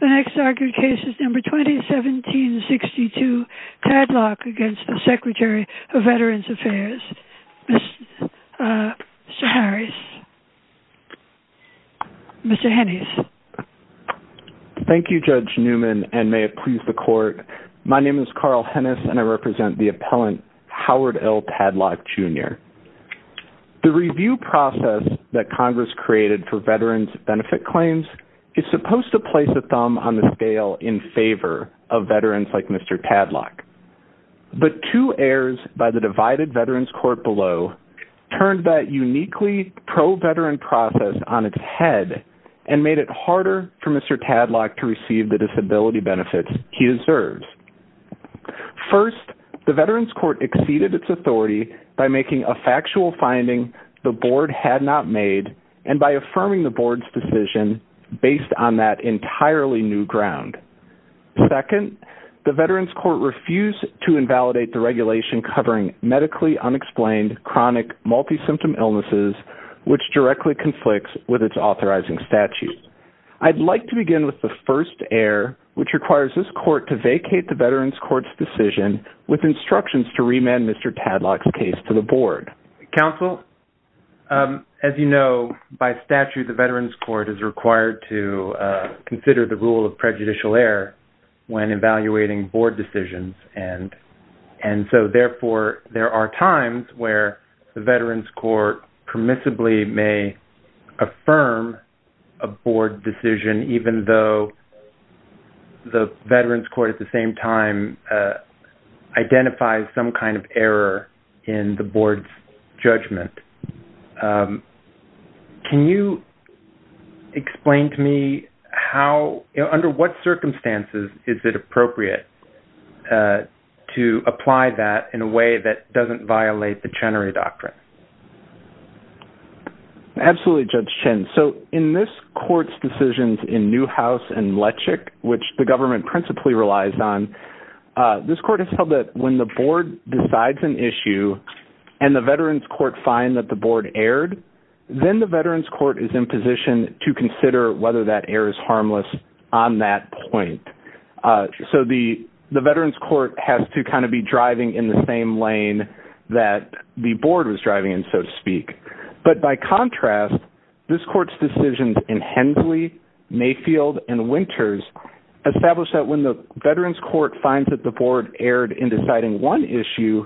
The next argued case is number 2017-62, Tadlock v. Secretary of Veterans Affairs. Mr. Harris. Mr. Hennis. Thank you, Judge Newman, and may it please the Court. My name is Carl Hennis, and I represent the appellant Howard L. Tadlock, Jr. The review process that Congress created for veterans' benefit claims is supposed to place a thumb on the scale in favor of veterans like Mr. Tadlock. But two heirs by the divided Veterans Court below turned that uniquely pro-veteran process on its head and made it harder for Mr. Tadlock to receive the disability benefits he deserves. First, the Veterans Court exceeded its authority by making a factual finding the Board had not made and by affirming the Board's decision based on that entirely new ground. Second, the Veterans Court refused to invalidate the regulation covering medically unexplained chronic multi-symptom illnesses, which directly conflicts with its authorizing statute. I'd like to begin with the first heir, which requires this Court to vacate the Veterans Court's decision with instructions to remand Mr. Tadlock's case to the Board. Counsel, as you know, by statute, the Veterans Court is required to consider the rule of prejudicial heir when evaluating Board decisions. And so, therefore, there are times where the Veterans Court permissibly may affirm a Board decision even though the Veterans Court at the same time identifies some kind of error in the Board's judgment. Can you explain to me how, under what circumstances, is it appropriate to apply that in a way that doesn't violate the Chenery Doctrine? Absolutely, Judge Chen. So, in this Court's decisions in Newhouse and Lechick, which the government principally relies on, this Court has held that when the Board decides an issue and the Veterans Court find that the Board erred, then the Veterans Court is in position to consider whether that heir is harmless on that point. So, the Veterans Court has to kind of be driving in the same lane that the Board was driving in, so to speak. But, by contrast, this Court's decisions in Hensley, Mayfield, and Winters establish that when the Veterans Court finds that the Board erred in deciding one issue,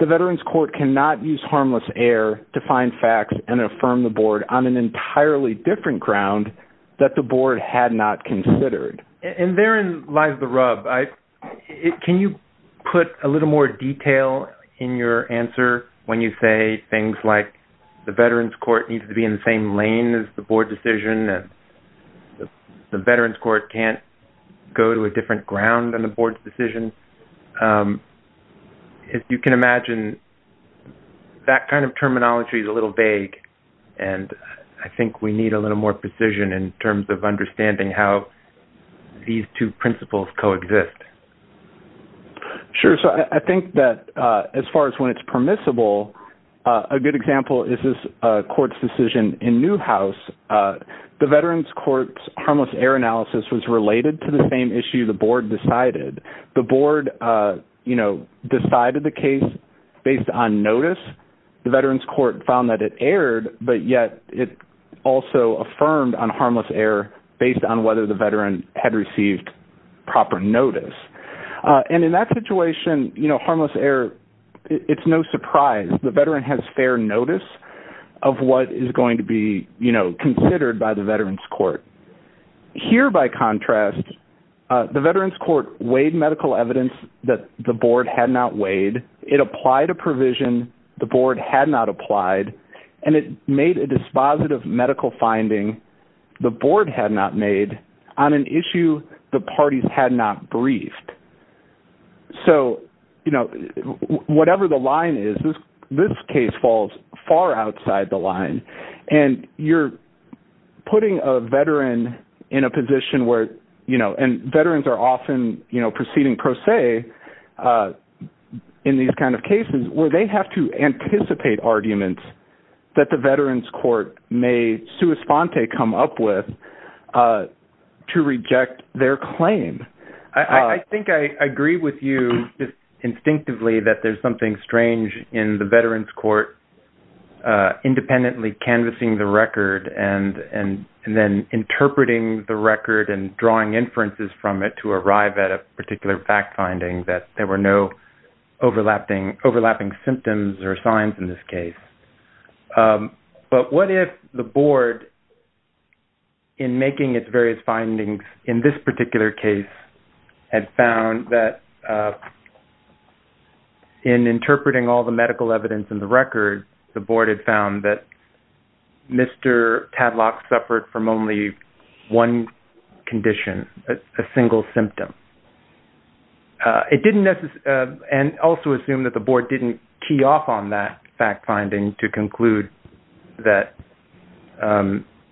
the Veterans Court cannot use harmless heir to find facts and affirm the Board on an entirely different ground that the Board had not considered. And therein lies the rub. Can you put a little more detail in your answer when you say things like the Veterans Court needs to be in the same lane as the Board's decision, and the Veterans Court can't go to a different ground than the Board's decision? As you can imagine, that kind of terminology is a little vague, and I think we need a little more precision in terms of understanding how these two principles coexist. Sure. So, I think that as far as when it's permissible, a good example is this Court's decision in Newhouse. The Veterans Court's harmless heir analysis was related to the same issue the Board decided. The Board decided the case based on notice. The Veterans Court found that it erred, but yet it also affirmed on harmless heir based on whether the Veteran had received proper notice. And in that situation, harmless heir, it's no surprise. The Veteran has fair notice of what is going to be considered by the Veterans Court. Here, by contrast, the Veterans Court weighed medical evidence that the Board had not weighed. It applied a provision the Board had not applied, and it made a dispositive medical finding the Board had not made on an issue the parties had not briefed. So, you know, whatever the line is, this case falls far outside the line. And you're putting a Veteran in a position where, you know, and Veterans are often, you know, proceeding pro se in these kind of cases, where they have to anticipate arguments that the Veterans Court may sua sponte come up with to reject their claim. I think I agree with you instinctively that there's something strange in the Veterans Court independently canvassing the record and then interpreting the record and drawing inferences from it to arrive at a particular fact finding that there were no overlapping symptoms or signs in this case. But what if the Board, in making its various findings in this particular case, had found that in interpreting all the medical evidence in the record, the Board had found that Mr. Tadlock suffered from only one condition, a single symptom? And also assume that the Board didn't key off on that fact finding to conclude that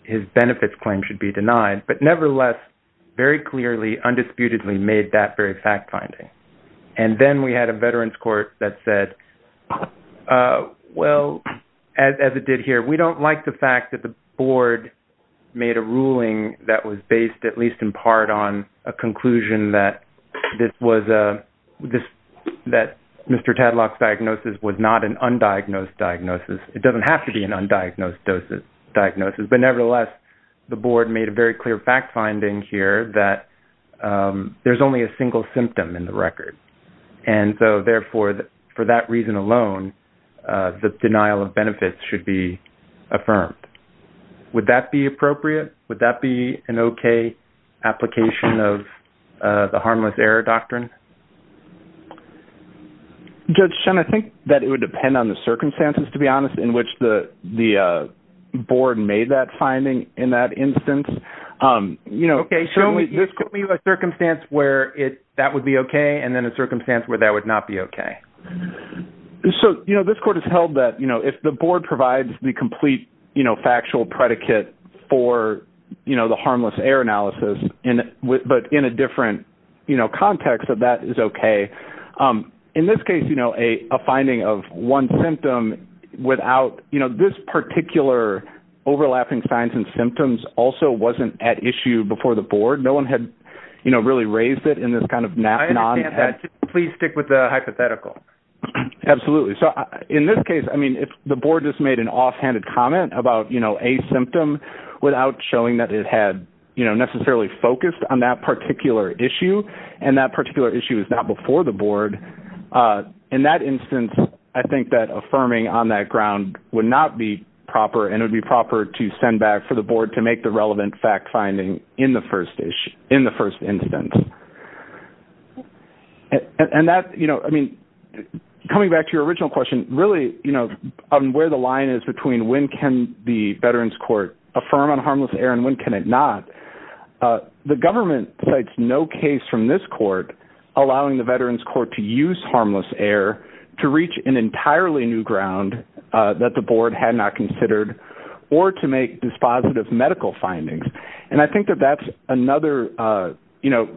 his benefits claim should be denied. But nevertheless, very clearly, undisputedly made that very fact finding. And then we had a Veterans Court that said, well, as it did here, we don't like the fact that the Board made a ruling that was based at least in part on a conclusion that Mr. Tadlock's diagnosis was not an undiagnosed diagnosis. It doesn't have to be an undiagnosed diagnosis. But nevertheless, the Board made a very clear fact finding here that there's only a single symptom in the record. And so, therefore, for that reason alone, the denial of benefits should be affirmed. Would that be appropriate? Would that be an okay application of the harmless error doctrine? Judge Shen, I think that it would depend on the circumstances, to be honest, in which the Board made that finding in that instance. Okay. Show me a circumstance where that would be okay and then a circumstance where that would not be okay. So, this Court has held that if the Board provides the complete factual predicate for the harmless error analysis, but in a different context, that that is okay. In this case, you know, a finding of one symptom without, you know, this particular overlapping signs and symptoms also wasn't at issue before the Board. No one had, you know, really raised it in this kind of non- I understand that. Please stick with the hypothetical. Absolutely. So, in this case, I mean, if the Board just made an offhanded comment about, you know, a symptom without showing that it had, you know, necessarily focused on that particular issue and that particular issue is not before the Board, in that instance, I think that affirming on that ground would not be proper and it would be proper to send back for the Board to make the relevant fact-finding in the first instance. And that, you know, I mean, coming back to your original question, really, you know, on where the line is between when can the Veterans Court affirm on harmless error and when can it not, the government cites no case from this court allowing the Veterans Court to use harmless error to reach an entirely new ground that the Board had not considered or to make dispositive medical findings. And I think that that's another, you know,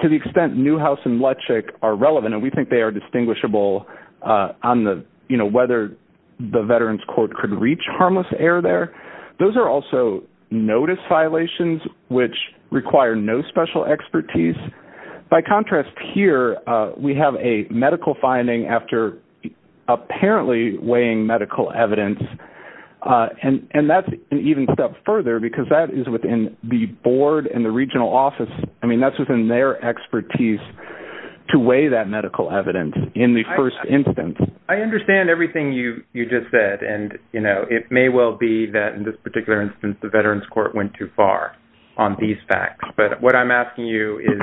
to the extent Newhouse and Lechick are relevant and we think they are distinguishable on the, you know, whether the Veterans Court could reach harmless error there. Those are also notice violations which require no special expertise. By contrast here, we have a medical finding after apparently weighing medical evidence and that's an even step further because that is within the Board and the regional office. I mean, that's within their expertise to weigh that medical evidence in the first instance. I understand everything you just said. And, you know, it may well be that in this particular instance, the Veterans Court went too far on these facts. But what I'm asking you is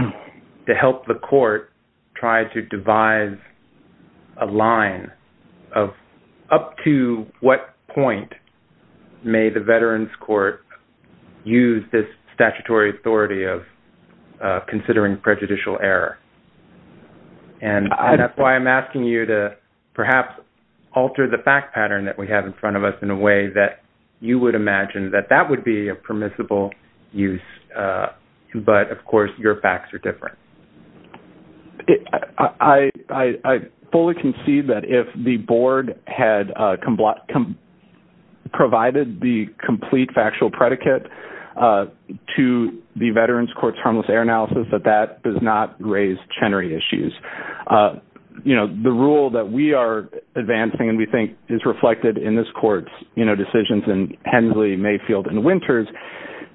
to help the court try to devise a line of up to what point may the Veterans Court use this statutory authority of considering prejudicial error. And that's why I'm asking you to perhaps alter the fact pattern that we have in front of us in a way that you would imagine that that would be a permissible use. But, of course, your facts are different. I fully concede that if the Board had provided the complete factual predicate to the Veterans Court's harmless error analysis, that that does not raise Chenery issues. You know, the rule that we are advancing and we think is reflected in this court's, you know, decisions in Hensley, Mayfield, and Winters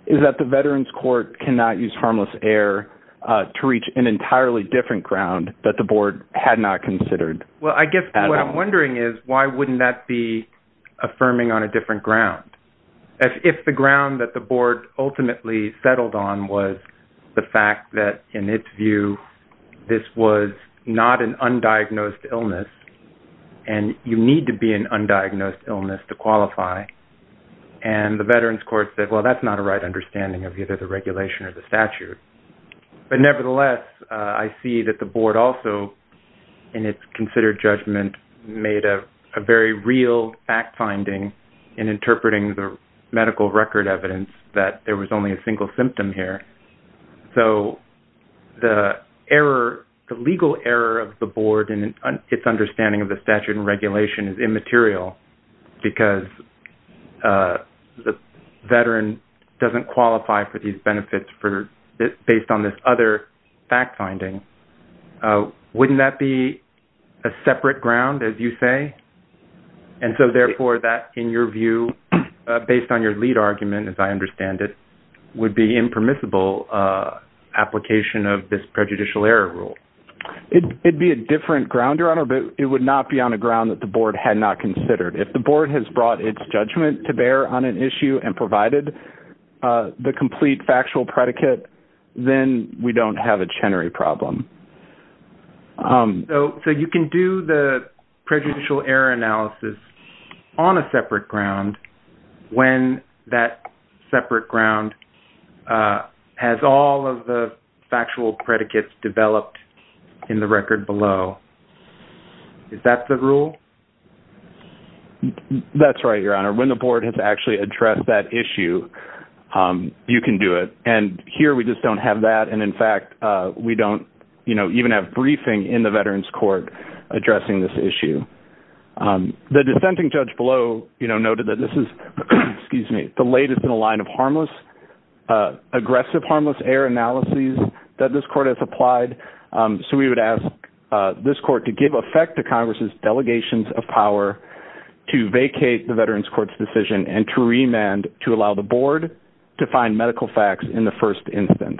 is that the Veterans Court cannot use harmless error to reach an entirely different ground that the Board had not considered. Well, I guess what I'm wondering is why wouldn't that be affirming on a different ground? If the ground that the Board ultimately settled on was the fact that, in its view, this was not an undiagnosed illness, and you need to be an undiagnosed illness to qualify, and the Veterans Court said, well, that's not a right understanding of either the regulation or the statute. But, nevertheless, I see that the Board also, in its considered judgment, made a very real fact-finding in interpreting the medical record evidence that there was only a single symptom here. So, the error, the legal error of the Board in its understanding of the statute and regulation is immaterial because the Veteran doesn't qualify for these benefits based on this other fact-finding. Wouldn't that be a separate ground, as you say? And so, therefore, that, in your view, based on your lead argument, as I understand it, would be impermissible application of this prejudicial error rule. It'd be a different ground, Your Honor, but it would not be on a ground that the Board had not considered. If the Board has brought its judgment to bear on an issue and provided the complete factual predicate, then we don't have a Chenery problem. So, you can do the prejudicial error analysis on a separate ground when that separate ground has all of the factual predicates developed in the record below. Is that the rule? That's right, Your Honor. When the Board has actually addressed that issue, you can do it. And here, we just don't have that. And, in fact, we don't even have briefing in the Veterans Court addressing this issue. The dissenting judge below noted that this is the latest in a line of aggressive harmless error analyses that this Court has applied. So, we would ask this Court to give effect to Congress's delegations of power to vacate the Veterans Court's decision and to remand to allow the Board to find medical facts in the first instance.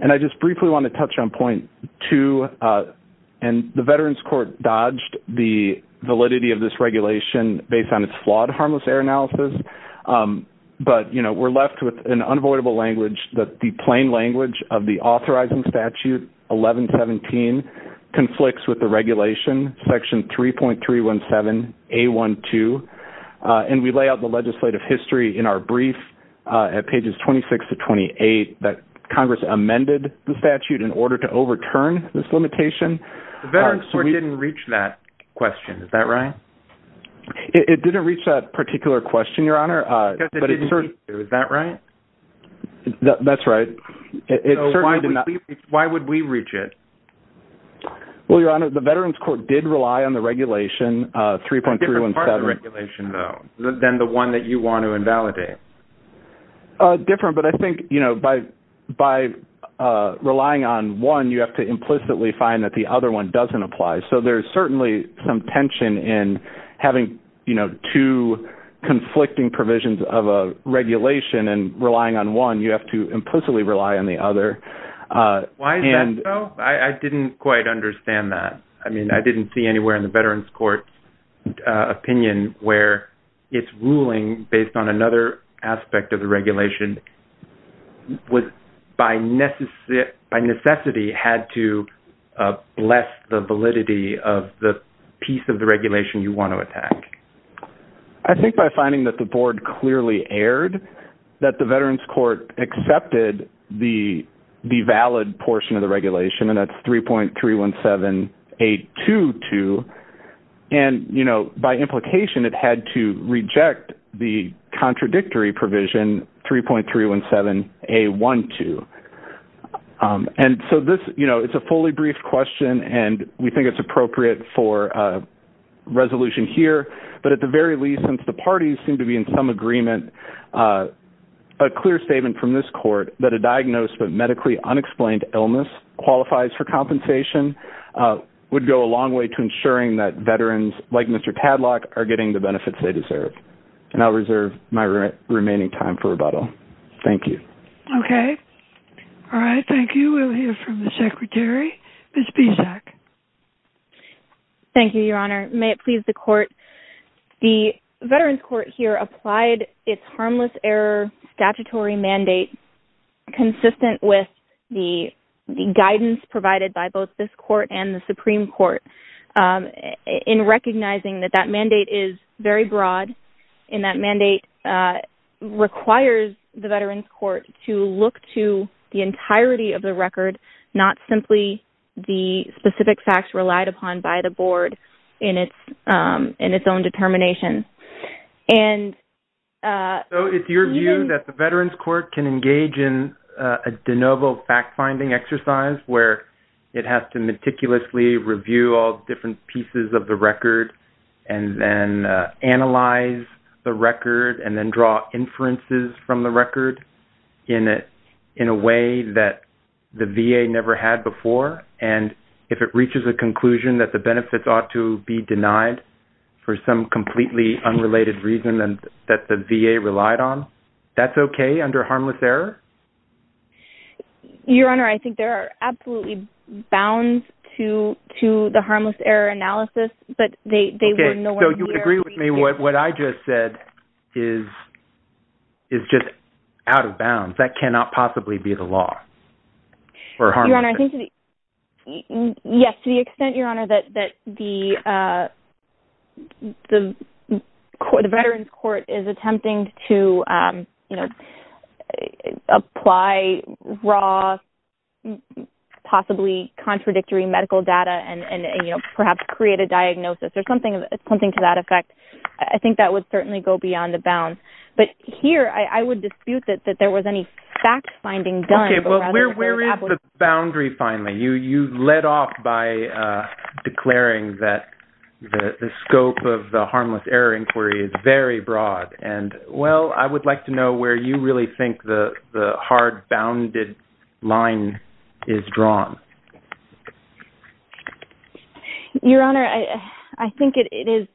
And I just briefly want to touch on point two. And the Veterans Court dodged the validity of this regulation based on its flawed harmless error analysis. But, you know, we're left with an unavoidable language that the plain language of the authorizing statute 1117 conflicts with the regulation section 3.317A12. And we lay out the legislative history in our brief at pages 26 to 28 that Congress amended the statute in order to overturn this limitation. The Veterans Court didn't reach that question. Is that right? It didn't reach that particular question, Your Honor. Because it didn't meet you. Is that right? That's right. So, why would we reach it? Well, Your Honor, the Veterans Court did rely on the regulation 3.317. Different part of the regulation, though, than the one that you want to invalidate. Different, but I think, you know, by relying on one, you have to implicitly find that the other one doesn't apply. So, there's certainly some tension in having, you know, two conflicting provisions of a regulation and relying on one. You have to implicitly rely on the other. Why is that so? I didn't quite understand that. I mean, I didn't see anywhere in the Veterans Court's opinion where it's ruling based on another aspect of the regulation was by necessity had to bless the validity of the piece of the regulation you want to attack. I think by finding that the Board clearly erred, that the Veterans Court accepted the valid portion of the regulation, and that's 3.317.822. And, you know, by implication, it had to reject the contradictory provision 3.317.A12. And so this, you know, it's a fully brief question, and we think it's appropriate for a resolution here. But at the very least, since the parties seem to be in some agreement, a clear statement from this court that a diagnosis of medically unexplained illness qualifies for compensation would go a long way to ensuring that Veterans, like Mr. Tadlock, are getting the benefits they deserve. And I'll reserve my remaining time for rebuttal. Thank you. Okay. All right. Thank you. We'll hear from the Secretary. Ms. Bisak. Thank you, Your Honor. May it please the Court, the Veterans Court here applied its harmless error statutory mandate consistent with the guidance provided by both this court and the Supreme Court in recognizing that that mandate is very broad, and that mandate requires the Veterans Court to look to the entirety of the record, not simply the specific facts relied upon by the board in its own determination. So it's your view that the Veterans Court can engage in a de novo fact-finding exercise where it has to meticulously review all different pieces of the record and then analyze the record and then draw inferences from the record in a way that the VA never had before? And if it reaches a conclusion that the benefits ought to be denied for some completely unrelated reason that the VA relied on, that's okay under harmless error? Your Honor, I think there are absolutely bounds to the harmless error analysis, but they were nowhere near… Okay. So you agree with me what I just said is just out of bounds. That cannot possibly be the law for harmless error. Yes. To the extent, Your Honor, that the Veterans Court is attempting to apply raw, possibly contradictory medical data and perhaps create a diagnosis or something to that effect, I think that would certainly go beyond the bounds. But here, I would dispute that there was any fact-finding done. Okay. Well, where is the boundary finally? You led off by declaring that the scope of the harmless error inquiry is very broad. And, well, I would like to know where you really think the hard-bounded line is drawn. Your Honor, I think it is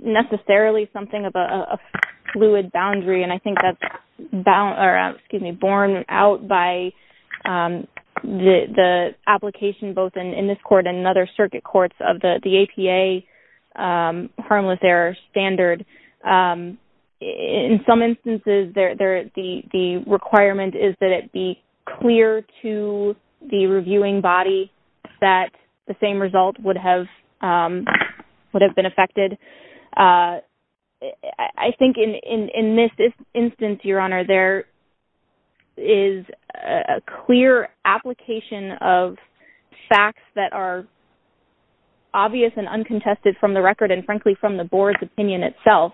necessarily something of a fluid boundary, and I think that's borne out by the application both in this court and in other circuit courts of the APA harmless error standard. In some instances, the requirement is that it be clear to the reviewing body that the same result would have been affected. I think in this instance, Your Honor, there is a clear application of facts that are obvious and uncontested from the record and, frankly, from the board's opinion itself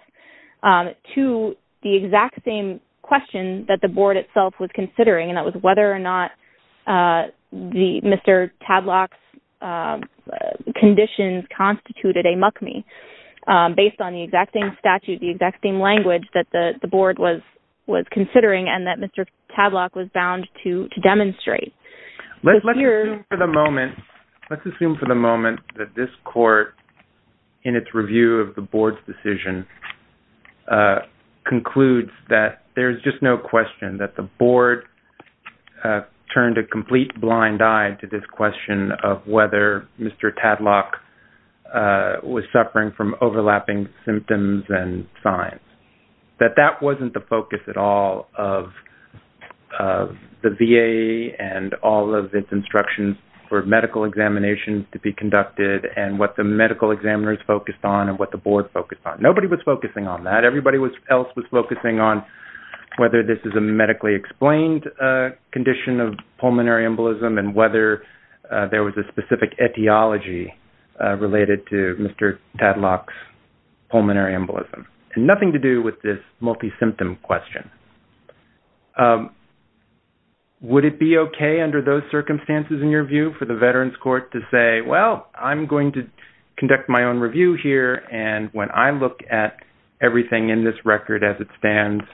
to the exact same question that the board itself was considering, and that was whether or not Mr. Tadlock's conditions constituted a MUCMI. Based on the exact same statute, the exact same language that the board was considering and that Mr. Tadlock was bound to demonstrate. Let's assume for the moment that this court, in its review of the board's decision, concludes that there's just no question that the board turned a complete blind eye to this question of whether Mr. Tadlock was suffering from overlapping symptoms and signs. That that wasn't the focus at all of the VA and all of its instructions for medical examinations to be conducted and what the medical examiners focused on and what the board focused on. Would it be okay under those circumstances, in your view, for the Veterans Court to say, well, I'm going to conduct my own review here, and when I look at everything in this record as it stands,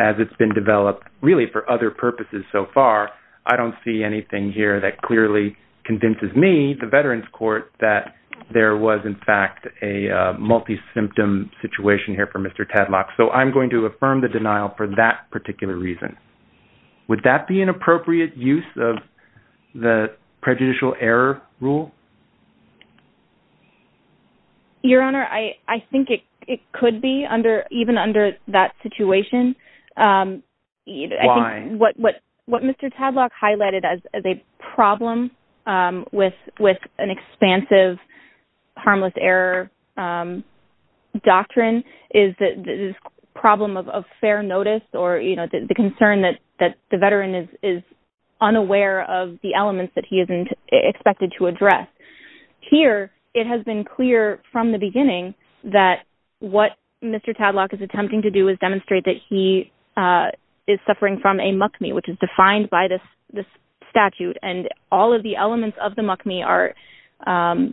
as it's been developed, really for other purposes so far, I don't see anything here that clearly convinces me, the Veterans Court, that there was, in fact, a multi-symptom situation here for Mr. Tadlock. So I'm going to affirm the denial for that particular reason. Would that be an appropriate use of the prejudicial error rule? Your Honor, I think it could be, even under that situation. Why? What Mr. Tadlock highlighted as a problem with an expansive harmless error doctrine is the problem of fair notice or the concern that the Veteran is unaware of the elements that he isn't expected to address. Here, it has been clear from the beginning that what Mr. Tadlock is attempting to do is demonstrate that he is suffering from a MUCMI, which is defined by this statute, and all of the elements of the MUCMI are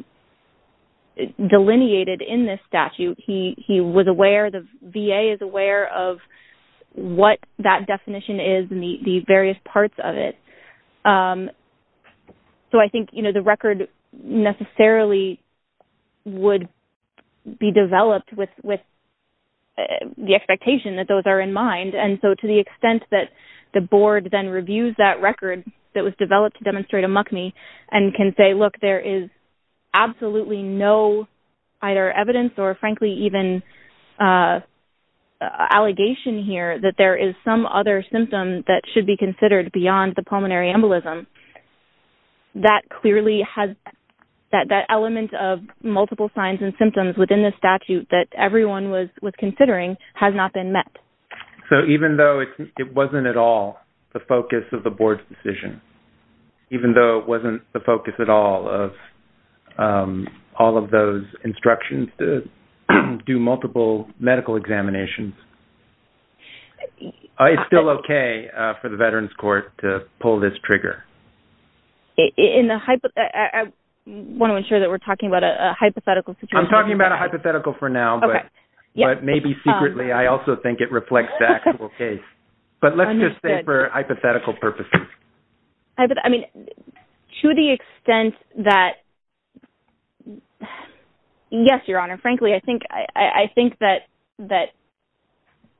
delineated in this statute. He was aware, the VA is aware of what that definition is and the various parts of it. So I think the record necessarily would be developed with the expectation that those are in mind. And so to the extent that the Board then reviews that record that was developed to demonstrate a MUCMI and can say, look, there is absolutely no either evidence or frankly even allegation here that there is some other symptom that should be considered beyond the pulmonary embolism. That clearly has, that element of multiple signs and symptoms within the statute that everyone was considering has not been met. So even though it wasn't at all the focus of the Board's decision, even though it wasn't the focus at all of all of those instructions to do multiple medical examinations, it's still okay for the Veterans Court to pull this trigger. I want to ensure that we're talking about a hypothetical situation. I'm talking about a hypothetical for now, but maybe secretly I also think it reflects the actual case. But let's just say for hypothetical purposes. I mean, to the extent that, yes, Your Honor, frankly, I think that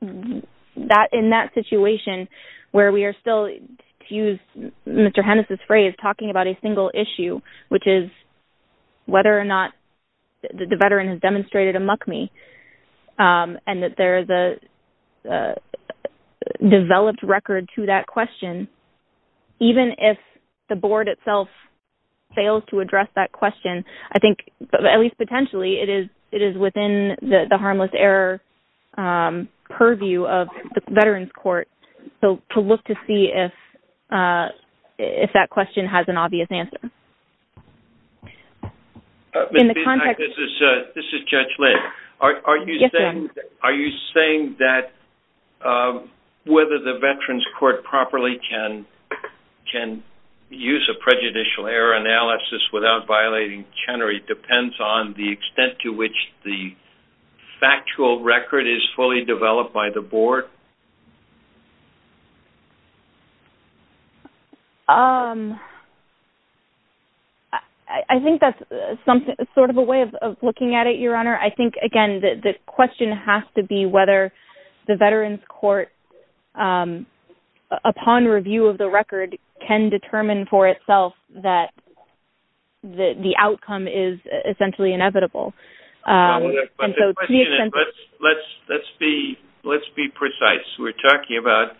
in that situation where we are still, to use Mr. Hennis' phrase, talking about a single issue, which is whether or not the Veteran has demonstrated a MUCMI, and that there is a developed record to that question, even if the Board itself fails to address that question, I think, at least potentially, it is within the harmless error purview of the Veterans Court to look to see if that question has an obvious answer. This is Judge Lynn. Yes, Your Honor. Are you saying that whether the Veterans Court properly can use a prejudicial error analysis without violating Chenery depends on the extent to which the factual record is fully developed by the Board? I think that's sort of a way of looking at it, Your Honor. I think, again, the question has to be whether the Veterans Court, upon review of the record, can determine for itself that the outcome is essentially inevitable. Let's be precise. We're talking about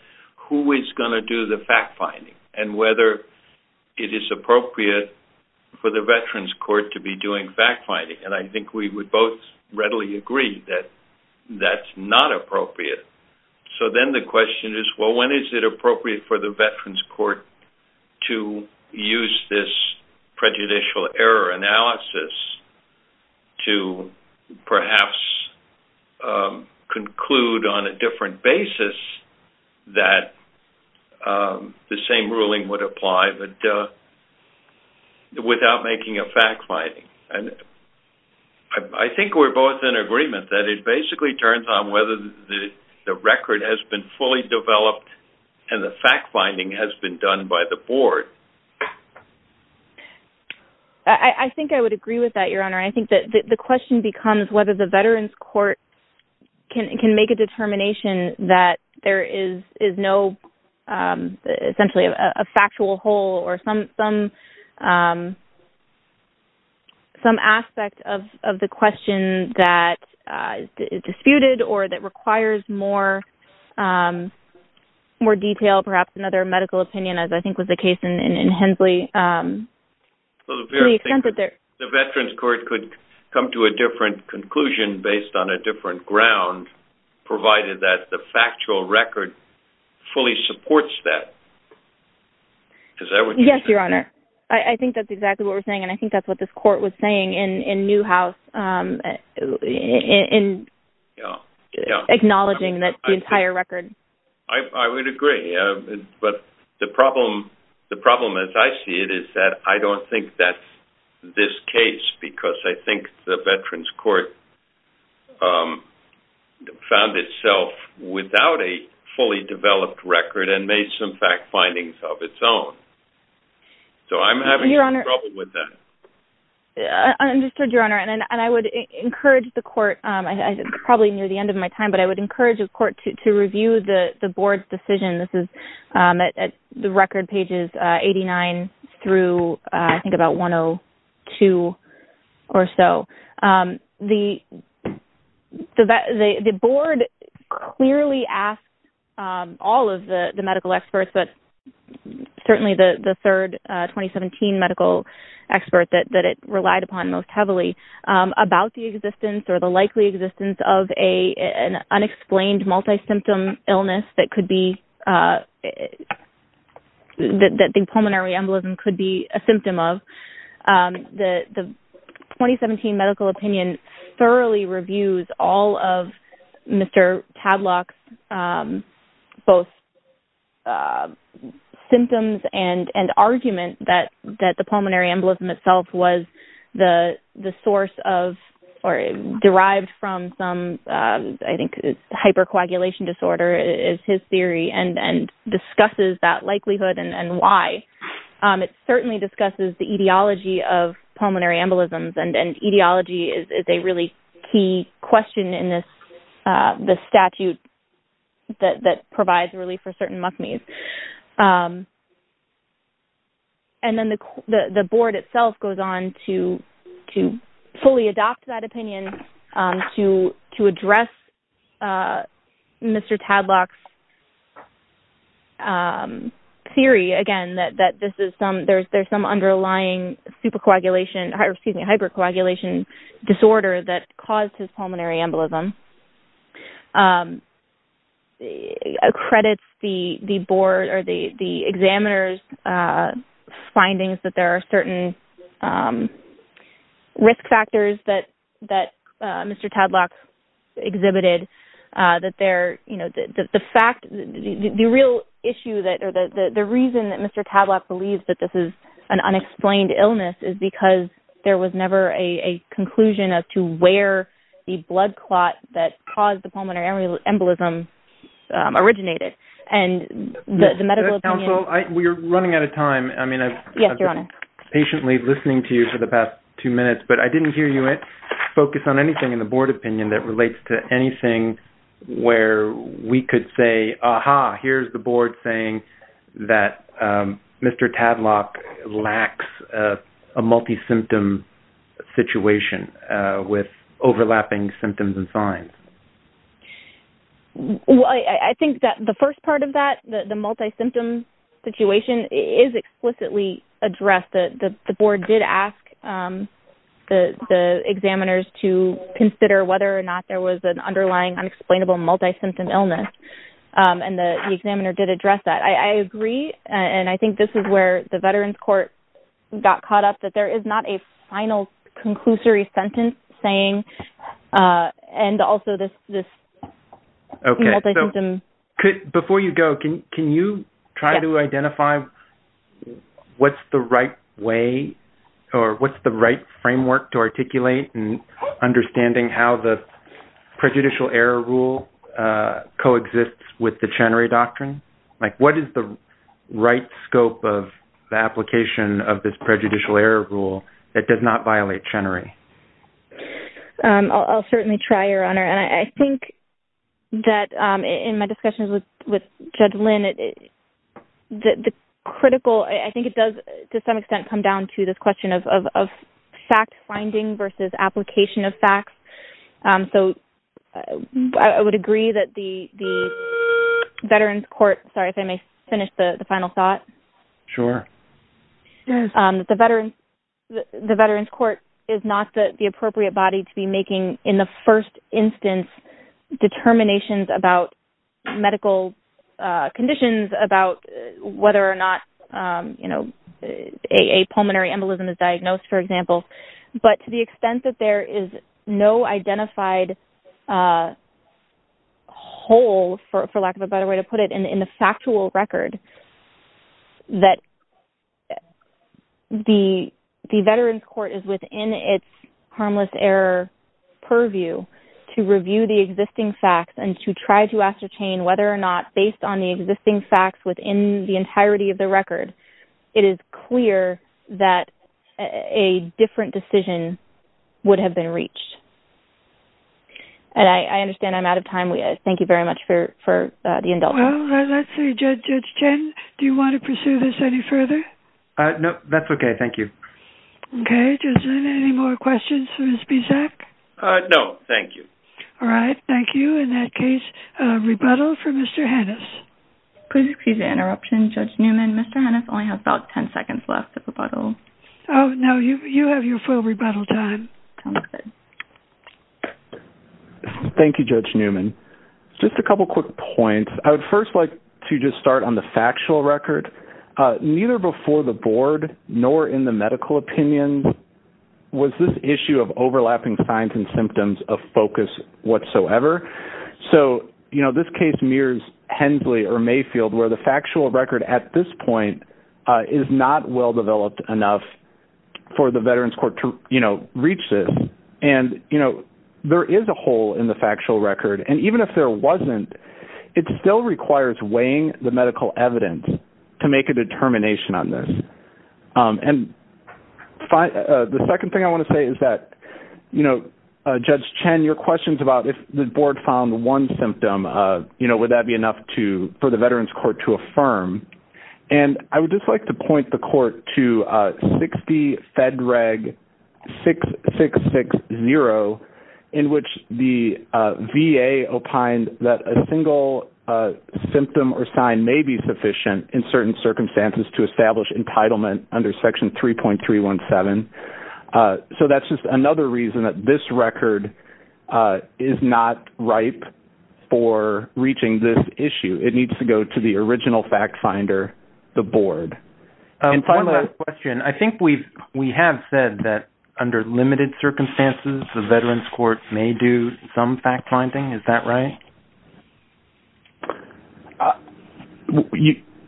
who is going to do the fact-finding and whether it is appropriate for the Veterans Court to be doing fact-finding. I think we would both readily agree that that's not appropriate. Then the question is, well, when is it appropriate for the Veterans Court to use this prejudicial error analysis to perhaps conclude on a different basis that the same ruling would apply, but without making a fact-finding? I think we're both in agreement that it basically turns on whether the record has been fully developed and the fact-finding has been done by the Board. I think I would agree with that, Your Honor. I think the question becomes whether the Veterans Court can make a determination that there is no, essentially, a factual hole or some aspect of the question that is disputed or that requires more detail, perhaps another medical opinion, as I think was the case in Hensley. The Veterans Court could come to a different conclusion based on a different ground, provided that the factual record fully supports that. Yes, Your Honor. I think that's exactly what we're saying, and I think that's what this Court was saying in Newhouse in acknowledging the entire record. I would agree, but the problem, as I see it, is that I don't think that's this case, because I think the Veterans Court found itself without a fully developed record and made some fact-findings of its own. So I'm having trouble with that. I understood, Your Honor, and I would encourage the Court, probably near the end of my time, but I would encourage the Court to review the Board's decision. This is at the record pages 89 through, I think, about 102 or so. The Board clearly asked all of the medical experts, but certainly the third 2017 medical expert that it relied upon most heavily, about the existence or the likely existence of an unexplained multisymptom illness that the pulmonary embolism could be a symptom of. The 2017 medical opinion thoroughly reviews all of Mr. Tadlock's both symptoms and argument that the pulmonary embolism itself was the source of or derived from some, I think, hypercoagulation disorder is his theory, and discusses that likelihood and why. It certainly discusses the etiology of pulmonary embolisms, and etiology is a really key question in this statute that provides relief for certain MUCMEs. And then the Board itself goes on to fully adopt that opinion to address Mr. Tadlock's theory, again, that there's some underlying hypercoagulation disorder that caused his pulmonary embolism. It also accredits the Board or the examiner's findings that there are certain risk factors that Mr. Tadlock exhibited. The reason that Mr. Tadlock believes that this is an unexplained illness is because there was never a conclusion as to where the blood clot that caused the pulmonary embolism originated. We're running out of time. I've been patiently listening to you for the past two minutes, but I didn't hear you focus on anything in the Board opinion that relates to anything where we could say, aha, here's the Board saying that Mr. Tadlock lacks a multi-symptom situation with overlapping symptoms and signs. I think that the first part of that, the multi-symptom situation, is explicitly addressed. The Board did ask the examiners to consider whether or not there was an underlying unexplainable multi-symptom illness, and the examiner did address that. I agree, and I think this is where the Veterans Court got caught up, that there is not a final conclusory sentence saying, and also this multi-symptom… What is the right scope of the application of this prejudicial error rule that does not violate Chenery? I'll certainly try, Your Honor, and I think that in my discussions with Judge Lynn, the critical… I think it does, to some extent, come down to this question of fact-finding versus application of facts. I would agree that the Veterans Court… Sorry, if I may finish the final thought. Sure. The Veterans Court is not the appropriate body to be making, in the first instance, determinations about medical conditions, about whether or not a pulmonary embolism is diagnosed, for example. But to the extent that there is no identified hole, for lack of a better way to put it, in the factual record, that the Veterans Court is within its harmless error purview to review the existing facts and to try to ascertain whether or not, based on the existing facts within the entirety of the record, it is clear that a different decision would have been reached. And I understand I'm out of time. Thank you very much for the indulgence. Well, let's see. Judge Chen, do you want to pursue this any further? No, that's okay. Thank you. Okay. Judge Lynn, any more questions for Ms. Bisak? No, thank you. All right. Thank you. In that case, rebuttal for Mr. Hannes. Please excuse the interruption, Judge Newman. Mr. Hannes only has about 10 seconds left of rebuttal. Oh, no. You have your full rebuttal time. Sounds good. Thank you, Judge Newman. Just a couple quick points. I would first like to just start on the factual record. Neither before the Board nor in the medical opinion was this issue of overlapping signs and symptoms of focus whatsoever. So, you know, this case mirrors Hensley or Mayfield, where the factual record at this point is not well-developed enough for the Veterans Court to, you know, reach this. And, you know, there is a hole in the factual record. And even if there wasn't, it still requires weighing the medical evidence to make a determination on this. And the second thing I want to say is that, you know, Judge Chen, your questions about if the Board found one symptom, you know, would that be enough for the Veterans Court to affirm? And I would just like to point the Court to 60 Fed Reg 6660, in which the VA opined that a single symptom or sign may be sufficient in certain circumstances to establish entitlement under Section 3.317. So that's just another reason that this record is not ripe for reaching this issue. It needs to go to the original fact-finder, the Board. And one last question. I think we have said that under limited circumstances, the Veterans Court may do some fact-finding. Is that right?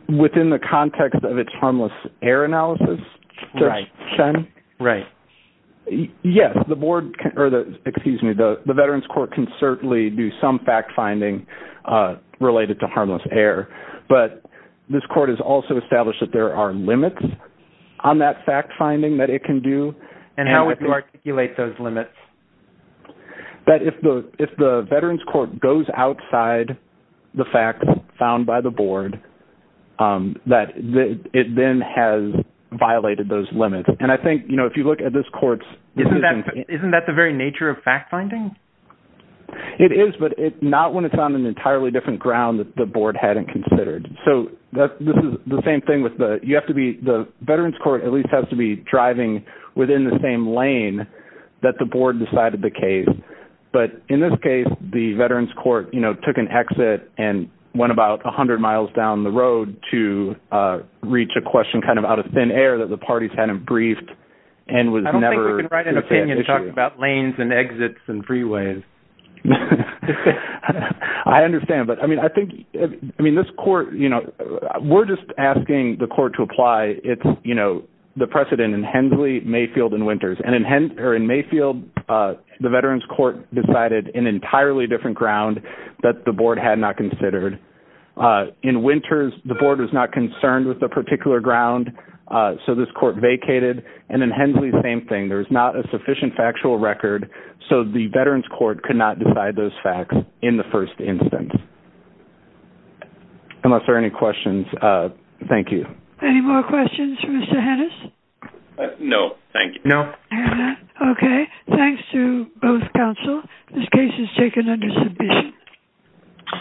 Within the context of its harmless error analysis, Judge Chen? Right. Yes. The Veterans Court can certainly do some fact-finding related to harmless error. But this Court has also established that there are limits on that fact-finding that it can do. And how would you articulate those limits? That if the Veterans Court goes outside the fact found by the Board, that it then has violated those limits. And I think, you know, if you look at this Court's… Isn't that the very nature of fact-finding? It is, but not when it's on an entirely different ground that the Board hadn't considered. So this is the same thing with the… You have to be… The Veterans Court at least has to be driving within the same lane that the Board decided the case. But in this case, the Veterans Court, you know, took an exit and went about 100 miles down the road to reach a question kind of out of thin air that the parties hadn't briefed and was never… You can write an opinion to talk about lanes and exits and freeways. I understand, but I mean, I think… I mean, this Court, you know, we're just asking the Court to apply, you know, the precedent in Hensley, Mayfield, and Winters. And in Mayfield, the Veterans Court decided an entirely different ground that the Board had not considered. In Winters, the Board was not concerned with the particular ground, so this Court vacated. And in Hensley, same thing. There was not a sufficient factual record, so the Veterans Court could not decide those facts in the first instance. Unless there are any questions, thank you. Any more questions for Mr. Hennis? No, thank you. Okay, thanks to both counsel. This case is taken under submission.